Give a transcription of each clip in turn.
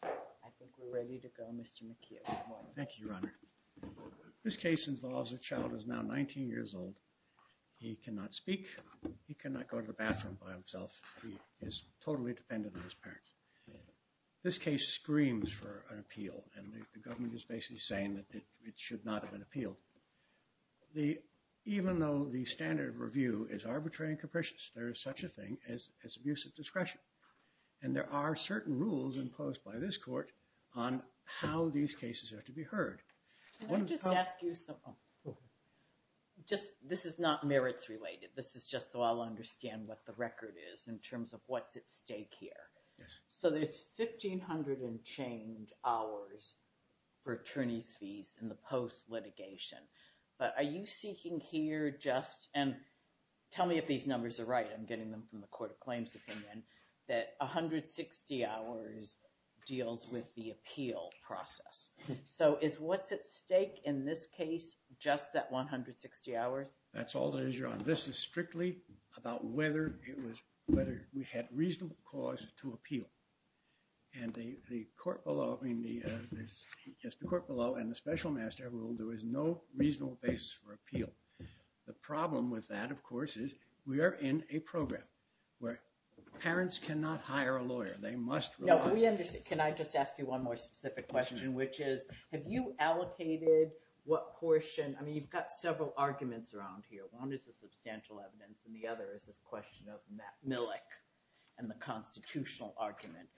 I think we're ready to go, Mr. McKeon. Thank you, Your Honor. This case involves a child who's now 19 years old. He cannot speak. He cannot go to the bathroom by himself. He is totally dependent on his parents. This case screams for an appeal, and the government is basically saying that it should not have been appealed. Even though the standard of review is arbitrary and capricious, there is such a thing as abusive discretion. And there are certain rules imposed by this court on how these cases are to be heard. Can I just ask you something? This is not merits related. This is just so I'll understand what the record is in terms of what's at stake here. So there's 1,500 and change hours for attorney's fees in the post litigation. But are you seeking here just, and tell me if these numbers are right, I'm getting them from the Court of Claims opinion, that 160 hours deals with the appeal process. So is what's at stake in this case just that 160 hours? That's all there is, Your Honor. This is strictly about whether it was, whether we had reasonable cause to appeal. And the court below, I mean the, yes, the court below and the special master rule, there is no reasonable basis for appeal. The problem with that, of course, is we are in a program where parents cannot hire a lawyer. Can I just ask you one more specific question, which is, have you allocated what portion, I mean you've got several arguments around here. One is the substantial evidence and the other is this question of Millick and the constitutional argument.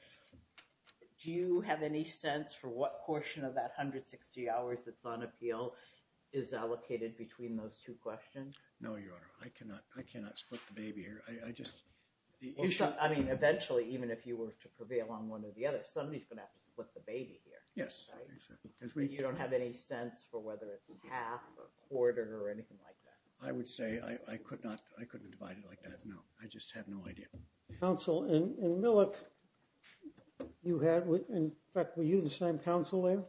Do you have any sense for what portion of that 160 hours that's on appeal is allocated between those two questions? No, Your Honor. I would say I could not, I couldn't divide it like that, no. I just have no idea. Counsel, in Millick, you had, in fact, were you the same counsel there?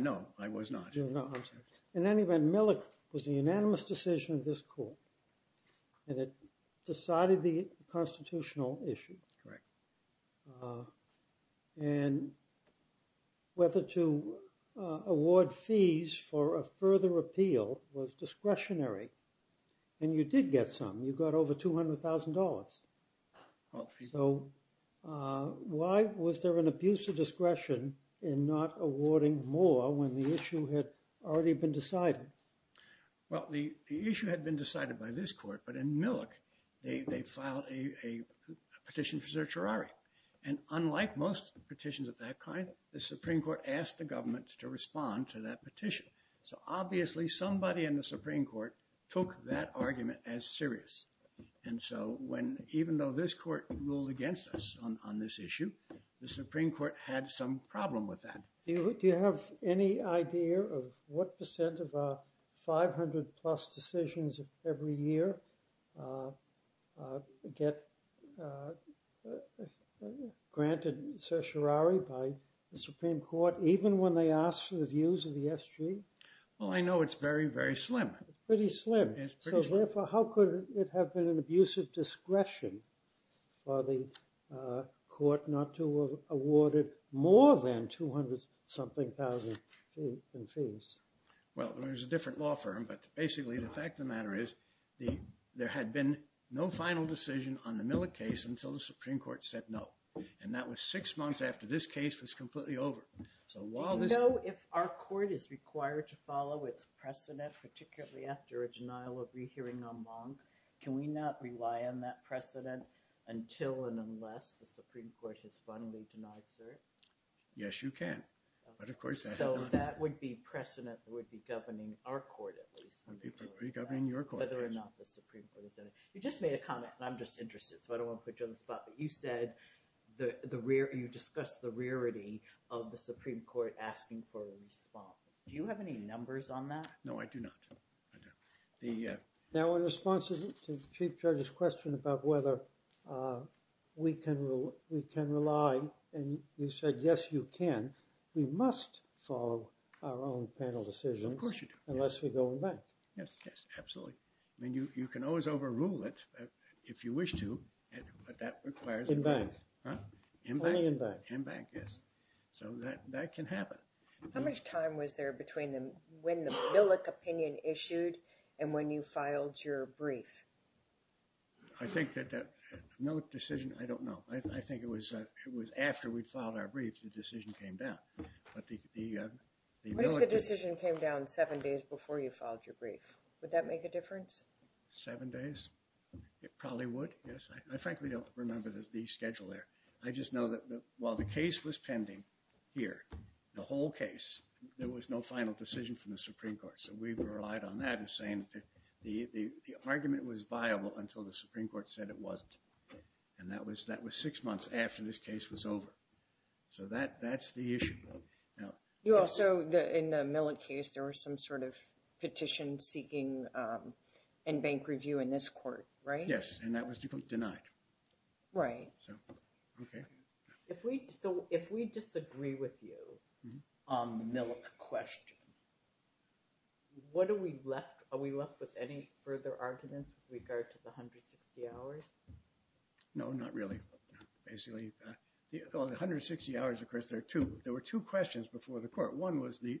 No, I was not. In any event, Millick was the And whether to award fees for a further appeal was discretionary. And you did get some. You got over $200,000. So why was there an abuse of discretion in not awarding more when the issue had already been decided? Well, the issue had been decided by this court, but in Millick, they filed a petition for certiorari. And unlike most petitions of that kind, the Supreme Court asked the government to respond to that petition. So obviously somebody in the Supreme Court took that argument as serious. And so when, even though this court ruled against us on this issue, the Supreme Court had some problem with that. Do you have any idea of what percent of our 500 plus decisions every year get granted certiorari by the Supreme Court even when they ask for the views of the SG? Well, I know it's very, very slim. It's pretty slim. It's pretty slim. So therefore, how could it have been an abuse of discretion for the court not to have awarded more than 200 something thousand in fees? Well, there's a different law firm, but basically the fact of the matter is there had been no final decision on the Millick case until the Supreme Court said no. And that was six months after this case was completely over. So while this... Do you know if our court is required to follow its precedent, particularly after a denial of rehearing en banc, can we not rely on that precedent until and unless the Supreme Court has finally denied cert? Yes, you can. But of course... So that would be precedent that would be governing our court, regoverning your court, whether or not the Supreme Court has done it. You just made a comment, and I'm just interested, so I don't want to put you on the spot, but you said the rare... You discussed the rarity of the Supreme Court asking for a response. Do you have any numbers on that? No, I do not. I don't. Now, in response to the Chief Judge's question about whether we can rely, and you said, yes, you can, we must follow our own panel decisions. Unless we go en banc. Yes, yes, absolutely. I mean, you can always overrule it if you wish to, but that requires... En banc. En banc. Only en banc. En banc, yes. So that can happen. How much time was there between when the Millick opinion issued and when you filed your brief? I think that that Millick decision, I don't know. I think it was after we filed our brief, the decision came down, but the... What if the decision came down seven days before you filed your brief? Would that make a difference? Seven days? It probably would, yes. I frankly don't remember the schedule there. I just know that while the case was pending here, the whole case, there was no final decision from the Supreme Court, so we relied on that as saying that the argument was viable until the Supreme Court said it wasn't, and that was six months after this case was over, so that's the issue. You also, in the Millick case, there was some sort of petition seeking en banc review in this court, right? Yes, and that was denied. Right. So, okay. So if we disagree with you on the Millick question, what are we left... Are we left with any further arguments with regard to the 160 hours? No, not really, basically. The 160 hours, of course, there are two. There were two questions before the court. One was the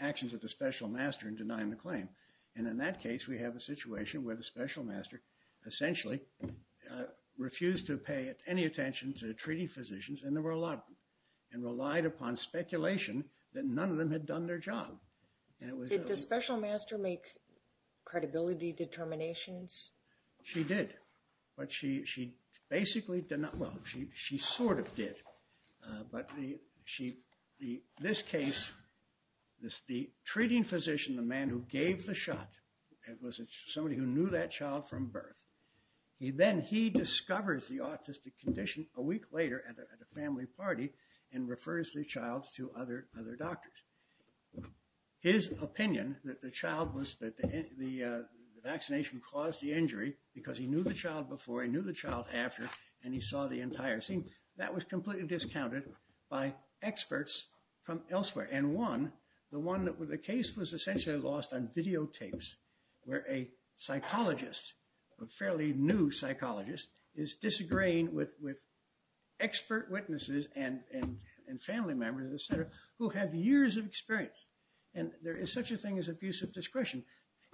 actions of the special master in denying the claim, and in that case, we have a situation where the special master essentially refused to pay any attention to the treating physicians, and there were a lot of them, and relied upon speculation that none of them had done their job, and it was... Did the special master make credibility determinations? She did, but she basically did not... Well, she sort of did, but this case, the treating physician, the man who gave the shot, it was somebody who knew that child from birth. Then he discovers the autistic condition a week later at a family party and refers the to other doctors. His opinion that the child was... That the vaccination caused the injury because he knew the child before, he knew the child after, and he saw the entire scene, that was completely discounted by experts from elsewhere. And one, the case was essentially lost on videotapes, where a psychologist, a fairly new psychologist, is disagreeing with expert witnesses and family members, et cetera, who have years of experience, and there is such a thing as abusive discretion,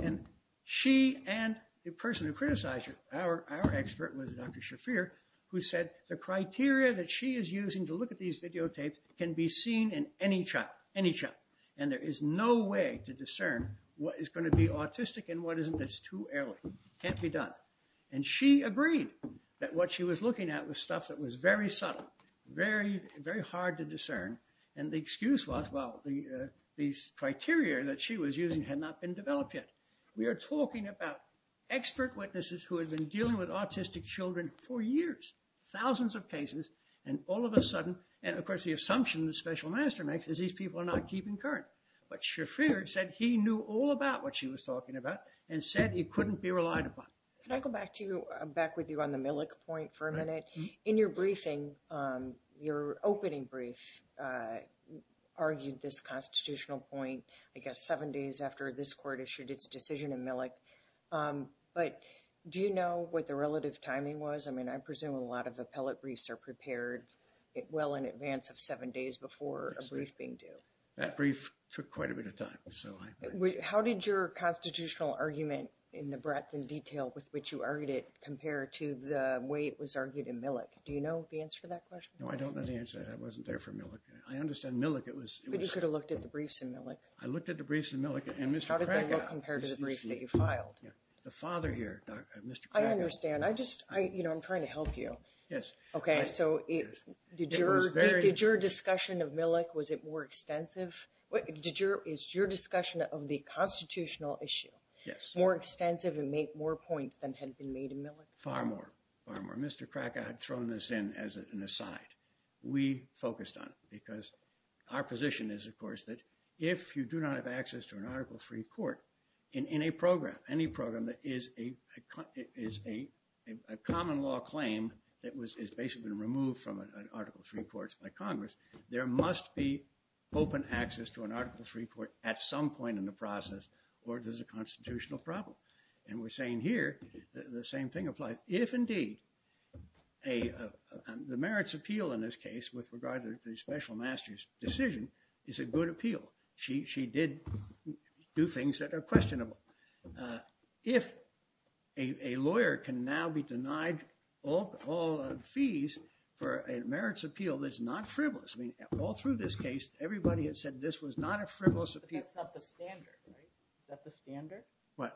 and she and the person who criticized her, our expert was Dr. Shafir, who said the criteria that she is using to look at these videotapes can be seen in any child, any child, and there is no way to discern what is going to be autistic and what isn't. It's too early. It can't be done. And she agreed that what she was looking at was stuff that was very subtle, very hard to discern, and the excuse was, well, these criteria that she was using had not been developed yet. We are talking about expert witnesses who have been dealing with autistic children for years, thousands of cases, and all of a sudden... And of course, the assumption the special master makes is these people are not keeping current. But Shafir said he knew all about what she was talking about and said he couldn't be relied upon. Can I go back to you, back with you on the Millick point for a minute? In your briefing, your opening brief argued this constitutional point, I guess, seven days after this court issued its decision in Millick. But do you know what the relative timing was? I mean, I presume a lot of appellate briefs are prepared well in advance of seven days before a brief being due. That brief took quite a bit of time, so... How did your constitutional argument in the breadth and detail with which you argued it compare to the way it was argued in Millick? Do you know the answer to that question? No, I don't know the answer to that. I wasn't there for Millick. I understand Millick, it was... But you could have looked at the briefs in Millick. I looked at the briefs in Millick and Mr. Krakow... How did that look compared to the brief that you filed? The father here, Mr. Krakow... I understand. I just, you know, I'm trying to help you. Yes. Okay, so did your discussion of Millick, was it more extensive? Is your discussion of the constitutional issue more extensive and make more points than had been made in Millick? Far more, far more. Mr. Krakow had thrown this in as an aside. We focused on it because our position is, of course, that if you do not have access to an article that is basically removed from Article III courts by Congress, there must be open access to an Article III court at some point in the process or there's a constitutional problem. And we're saying here the same thing applies. If indeed the merits appeal in this case with regard to the special master's decision is a good appeal, she did do things that are questionable. If a lawyer can now be denied all fees for a merits appeal that's not frivolous, I mean, all through this case, everybody had said this was not a frivolous appeal. That's not the standard, right? Is that the standard? What?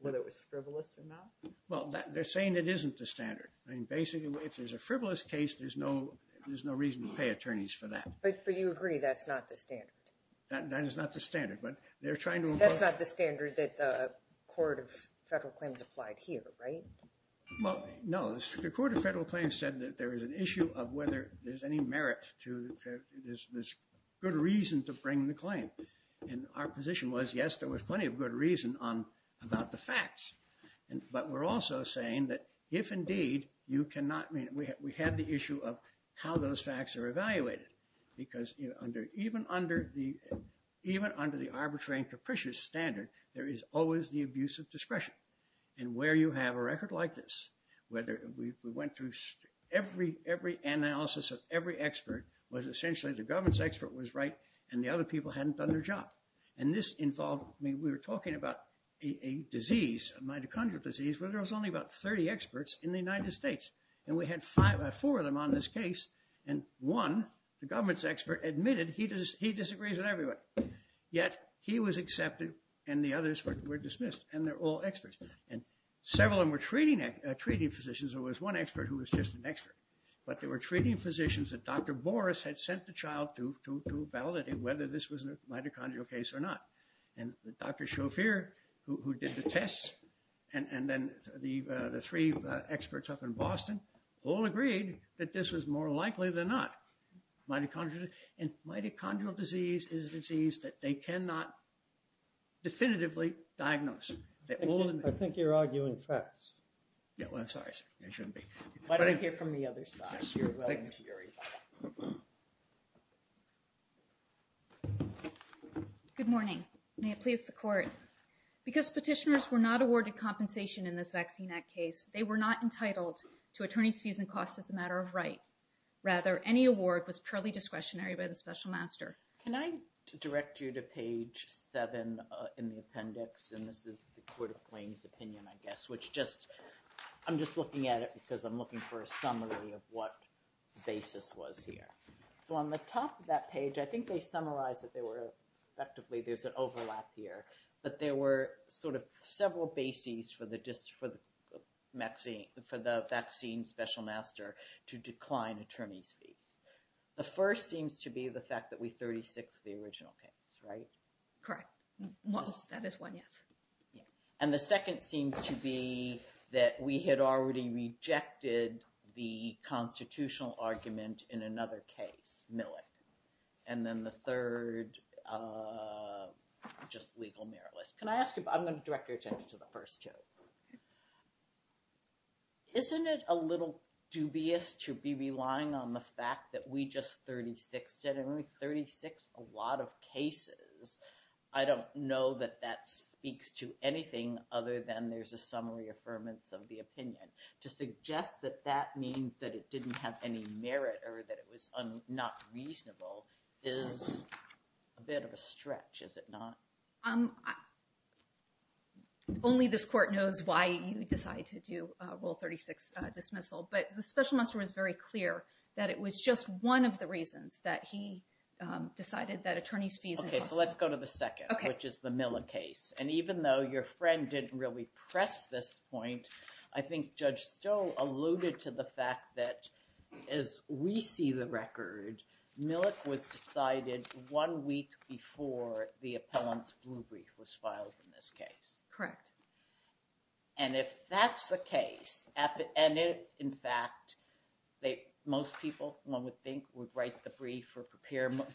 Whether it was frivolous or not? Well, they're saying it isn't the standard. I mean, basically, if there's a frivolous case, there's no reason to pay attorneys for that. But you agree that's not the standard? That is not the standard, but they're trying to... That's not the standard that the Court of Federal Claims applied here, right? Well, no. The Court of Federal Claims said that there is an issue of whether there's any merit to this good reason to bring the claim. And our position was, yes, there was plenty of good reason about the facts. But we're also saying that if indeed you cannot... I mean, we have the issue of how those facts are evaluated. Because even under the arbitrary and capricious standard, there is always the abuse of discretion. And where you have a record like this, whether we went through every analysis of every expert, was essentially the government's expert was right, and the other people hadn't done their job. And this involved... I mean, we were talking about a disease, a mitochondrial disease, where there was only about 30 experts in the United States. And we had four of them on this case. And one, the government's expert, admitted he disagrees with everybody. Yet he was accepted, and the others were dismissed. And they're all experts. And several of them were treating physicians. There was one expert who was just an expert. But they were treating physicians that Dr. Boris had sent the child to validate whether this was a mitochondrial case or not. And Dr. Shofir, who did the tests, and then the three experts up in Boston, all agreed that this was more likely than not. Mitochondrial disease is a disease that they cannot definitively diagnose. I think you're arguing facts. Yeah, well, I'm sorry, sir. I shouldn't be. Why don't you hear from the other side? Good morning. May it please the court. Because petitioners were not awarded compensation in this Vaccine Act case. They were not entitled to attorney's fees and costs as a matter of right. Rather, any award was purely discretionary by the special master. Can I direct you to page seven in the appendix? And this is the Court of Claims opinion, I guess, which just, I'm just looking at it because I'm looking for a summary of what basis was here. So on the top of that page, I think they summarized that they were, effectively, there's an overlap here, but there were sort of several bases for the vaccine special master to decline attorney's fees. The first seems to be the fact that we 36 the original case, right? Correct. That is one, yes. And the second seems to be that we had already rejected the constitutional argument in another case, Millick. And then the third, just legal meritless. Can I ask you, I'm going to direct your attention to the first two. Isn't it a little dubious to be relying on the fact that we just 36 it and we 36 a lot of cases? I don't know that that speaks to anything other than there's a summary affirmance of the opinion to suggest that that means that it didn't have any merit or that it was not reasonable is a bit of a stretch, is it not? Only this court knows why you decide to do rule 36 dismissal, but the special master was very clear that it was just one of the reasons that he decided that attorney's fees. Okay, so let's go to the second, which is the Miller case. And even though your friend didn't press this point, I think Judge Stowe alluded to the fact that as we see the record, Millick was decided one week before the appellant's blue brief was filed in this case. Correct. And if that's the case, and if, in fact, most people, one would think, would write the brief or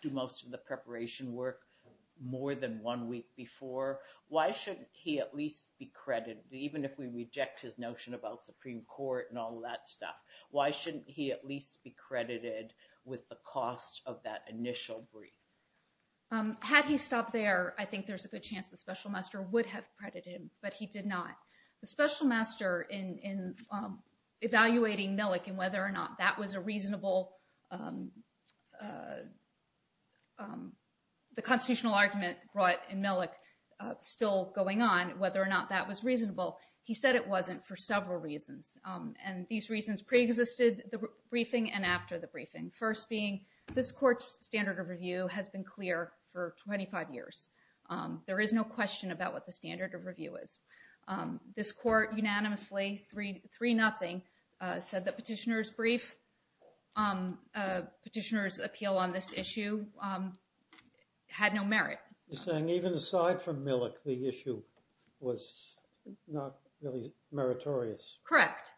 do most of the preparation work more than one week before, why shouldn't he at least be credited? Even if we reject his notion about Supreme Court and all that stuff, why shouldn't he at least be credited with the cost of that initial brief? Had he stopped there, I think there's a good chance the special master would have credited him, but he did not. The special master in evaluating Millick and whether or not that was a reasonable, the constitutional argument brought in Millick still going on, whether or not that was reasonable, he said it wasn't for several reasons. And these reasons pre-existed the briefing and after the briefing. First being, this court's standard of review has been clear for 25 years. There is no question about what the standard of review is. This court unanimously, 3-0, said the petitioner's brief, petitioner's appeal on this issue had no merit. You're saying even aside from Millick, the issue was not really meritorious? Correct.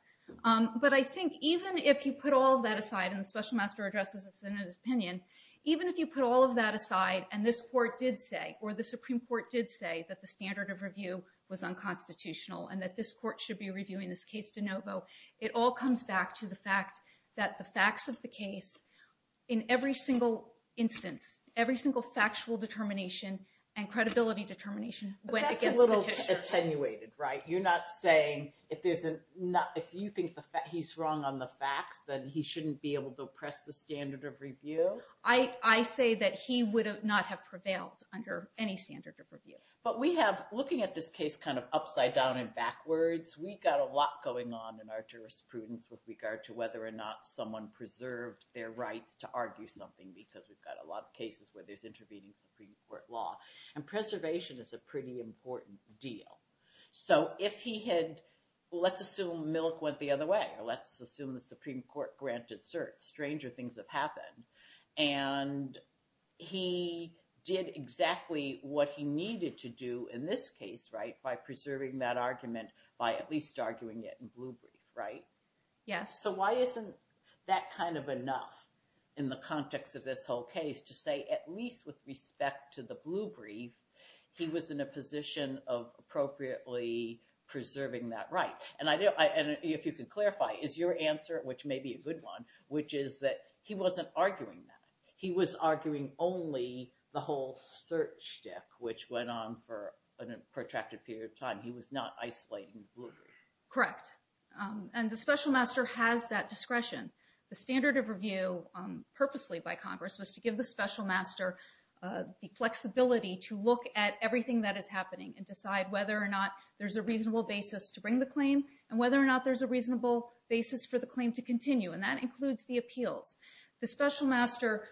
But I think even if you put all of that aside, and the special master addresses this in his opinion, even if you put all of that aside and this court did say, or the Supreme Court did say that the standard of review was unconstitutional and that this court should be reviewing this case de novo, it all comes back to the fact that the facts of the case, in every single instance, every single factual determination and credibility determination went against the petitioner. But that's a little attenuated, right? You're not saying if there's a, if you think he's wrong on the facts, then he shouldn't be able to the standard of review? I say that he would not have prevailed under any standard of review. But we have, looking at this case kind of upside down and backwards, we've got a lot going on in our jurisprudence with regard to whether or not someone preserved their rights to argue something, because we've got a lot of cases where there's intervening Supreme Court law. And preservation is a pretty important deal. So if he had, let's assume Millick went the other way, or let's assume the Supreme Court granted cert, stranger things have happened. And he did exactly what he needed to do in this case, right, by preserving that argument by at least arguing it in blue brief, right? Yes. So why isn't that kind of enough in the context of this whole case to say, at least with respect to the blue brief, he was in a position of appropriately preserving that right? And if you could clarify, is your answer, which may be a good one, which is that he wasn't arguing that. He was arguing only the whole search deck, which went on for a protracted period of time. He was not isolating the blue brief. Correct. And the special master has that discretion. The standard of review, purposely by Congress, was to give the special master the flexibility to look at everything that is happening and decide whether or not there's a reasonable basis to bring the claim, and whether or not there's a reasonable basis for the claim to continue. And that includes the appeals. The special master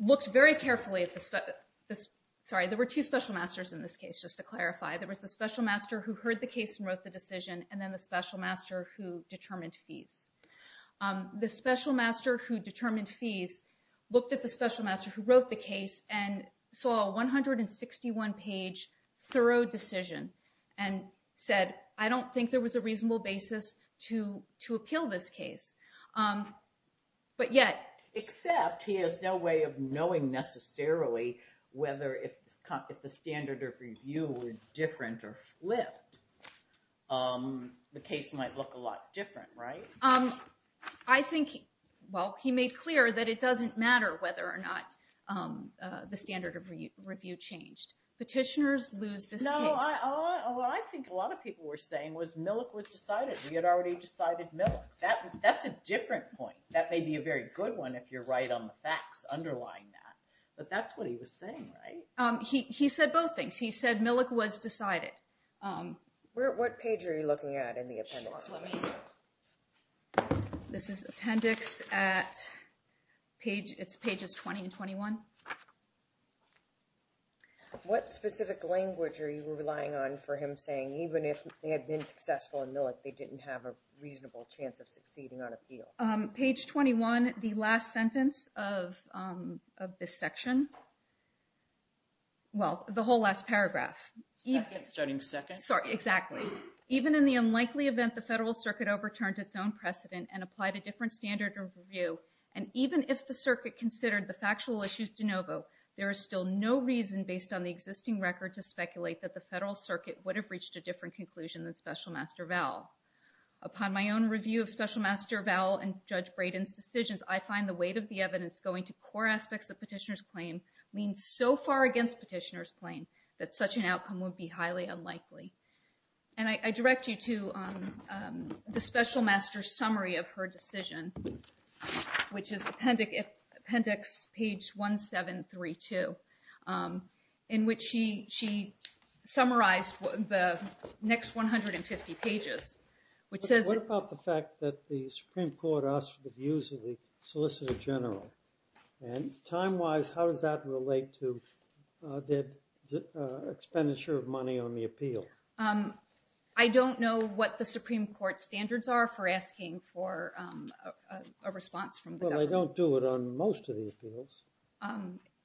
looked very carefully at the, sorry, there were two special masters in this case, just to clarify. There was the special master who heard the case and wrote the decision, and then the special master who determined fees. The special master who determined fees looked at the special master's 21-page thorough decision and said, I don't think there was a reasonable basis to appeal this case. But yet... Except he has no way of knowing necessarily whether if the standard of review were different or flipped, the case might look a lot different, right? I think, well, he made clear that it doesn't matter whether or not the standard of review changed. Petitioners lose this case. No, what I think a lot of people were saying was Millick was decided. We had already decided Millick. That's a different point. That may be a very good one if you're right on the facts underlying that. But that's what he was saying, right? He said both things. He said Millick was decided. This is appendix at page, it's pages 20 and 21. What specific language are you relying on for him saying even if they had been successful in Millick, they didn't have a reasonable chance of succeeding on appeal? Page 21, the last sentence of this section. Well, the whole last paragraph. Starting second. Sorry, exactly. Even in the unlikely event the Federal Circuit overturned its own precedent and applied a different standard of review, and even if the circuit considered the factual issues de novo, there is still no reason based on the existing record to speculate that the Federal Circuit would have reached a different conclusion than Special Master Vowell. Upon my own review of Special Master Vowell and Judge Braden's decisions, I find the weight of the evidence going to core aspects of petitioner's claim means so far against petitioner's claim that such an outcome would be highly unlikely. And I direct you to the Special Master's summary of her decision, which is appendix page 1732, in which she summarized the next 150 pages, which says... What about the fact that the Supreme Court asked for the views of the Solicitor General? And time-wise, how does that relate to the expenditure of money on the appeal? I don't know what the Supreme Court standards are for asking for a response from the government. Well, they don't do it on most of the appeals.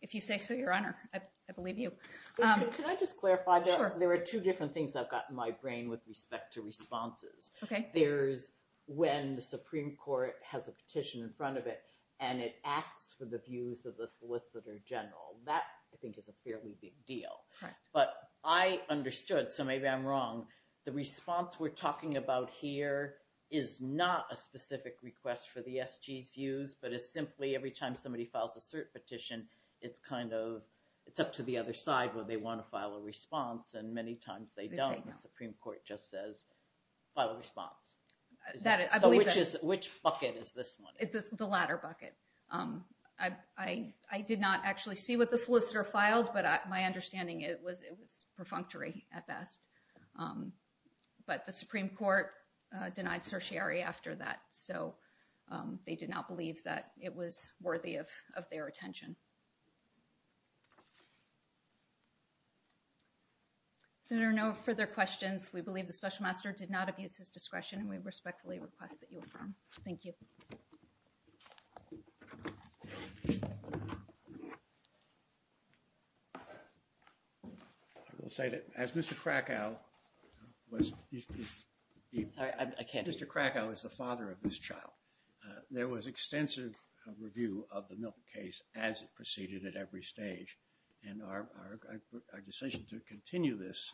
If you say so, Your Honor, I believe you. Can I just clarify? Sure. There are two different things I've got in my brain with respect to responses. Okay. There's when the Supreme Court has a petition in front of it, and it asks for the views of the Solicitor General. That, I think, is a fairly big deal. But I understood, so maybe I'm wrong, the response we're talking about here is not a specific request for the SG's views, but it's simply every time somebody files a cert petition, it's up to the other side whether they want to file a response, and many times they don't. The Supreme Court just says, file a response. Which bucket is this one? The latter bucket. I did not actually see what the solicitor filed, but my understanding, it was perfunctory at best. But the Supreme Court denied certiorari after that, so they did not believe that it was worthy of their attention. There are no further questions. We believe the Special Master did not abuse his discretion, and we respectfully request that you affirm. Thank you. I will say that as Mr. Krakow was... Sorry, I can't... Mr. Krakow is the father of this child. There was extensive review of the Milken case as it proceeded at every stage, and our decision to continue this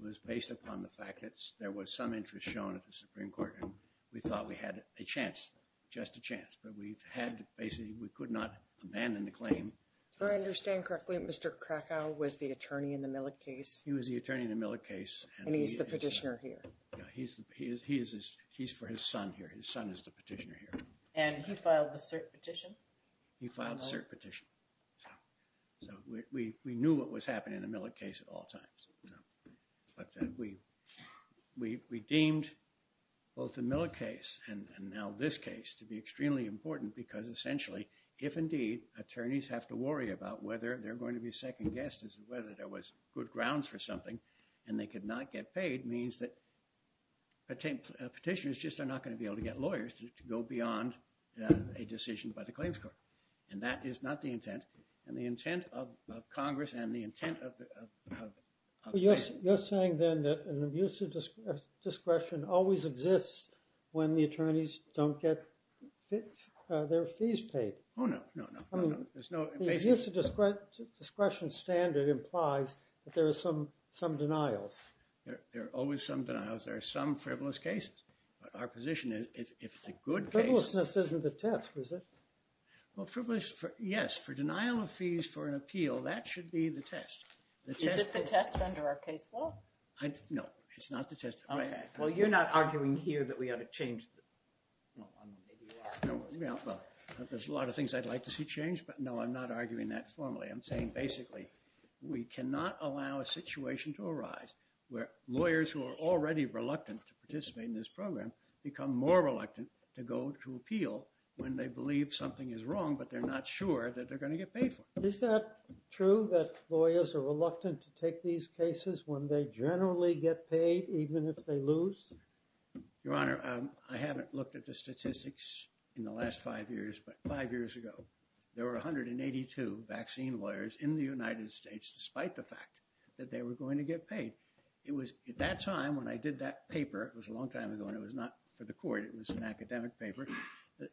was based upon the fact that there was some interest shown at the Supreme Court, and we thought we had a chance, just a chance. But we had basically, we could not abandon the claim. Do I understand correctly, Mr. Krakow was the attorney in the Millick case? He was the attorney in the Millick case. And he's the petitioner here? Yeah, he's for his son here. His son is the petitioner here. And he filed the cert petition? He filed the cert petition. So we knew what was happening in the Millick case at all times. But we deemed both the Millick case and now this case to be extremely important because essentially, if indeed, attorneys have to worry about whether they're going to be second guessed as to whether there was good grounds for something, and they could not get paid, means that petitioners just are not going to be able to get lawyers to go beyond a decision by the Supreme Court. You're saying then that an abuse of discretion always exists when the attorneys don't get their fees paid? Oh, no, no, no. I mean, there's no... The abuse of discretion standard implies that there are some denials. There are always some denials. There are some frivolous cases. But our position is, if it's a good case... Frivolousness isn't the test, is it? Well, frivolous, yes. For denial of fees for an appeal, that should be the test. Is it the test under our case law? No, it's not the test. Okay. Well, you're not arguing here that we ought to change the... No, I'm not. Maybe you are. No, well, there's a lot of things I'd like to see changed, but no, I'm not arguing that formally. I'm saying basically, we cannot allow a situation to arise where lawyers who are already reluctant to participate in this program become more reluctant to go to appeal when they believe something is wrong, but they're not sure that they're going to get paid for it. Is that true, that lawyers are reluctant to take these cases when they generally get paid, even if they lose? Your Honor, I haven't looked at the statistics in the last five years, but five years ago, there were 182 vaccine lawyers in the United States, despite the fact that they were going to get paid. At that time, when I did that paper, it was a long time ago, and it was not for the court, it was an academic paper.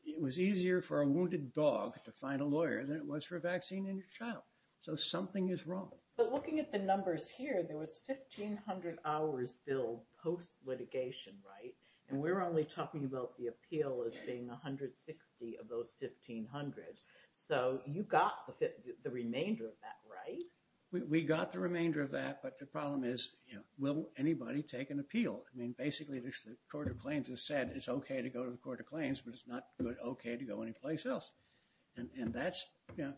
It was easier for a wounded dog to find a lawyer than it was for a vaccine in your child. So something is wrong. But looking at the numbers here, there was 1,500 hours billed post-litigation, right? And we're only talking about the appeal as being 160 of those 1,500. So you got the remainder of that, right? We got the remainder of that, but the problem is, will anybody take an appeal? I mean, basically, the Court of Claims has said it's okay to go to the Court of Claims, but it's not okay to go anyplace else. And that's, you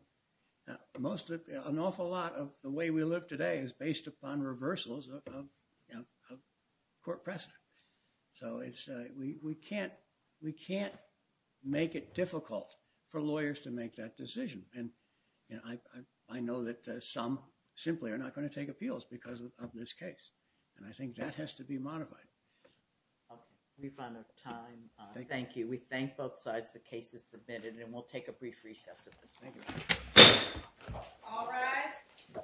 know, an awful lot of the way we live today is based upon reversals of court precedent. So we can't make it difficult for lawyers to make that decision. And I know that some simply are not going to take appeals because of this case. And I think that has to be modified. Okay, we've run out of time. Thank you. We thank both sides. The case is submitted. And we'll take a brief recess at this meeting. All rise.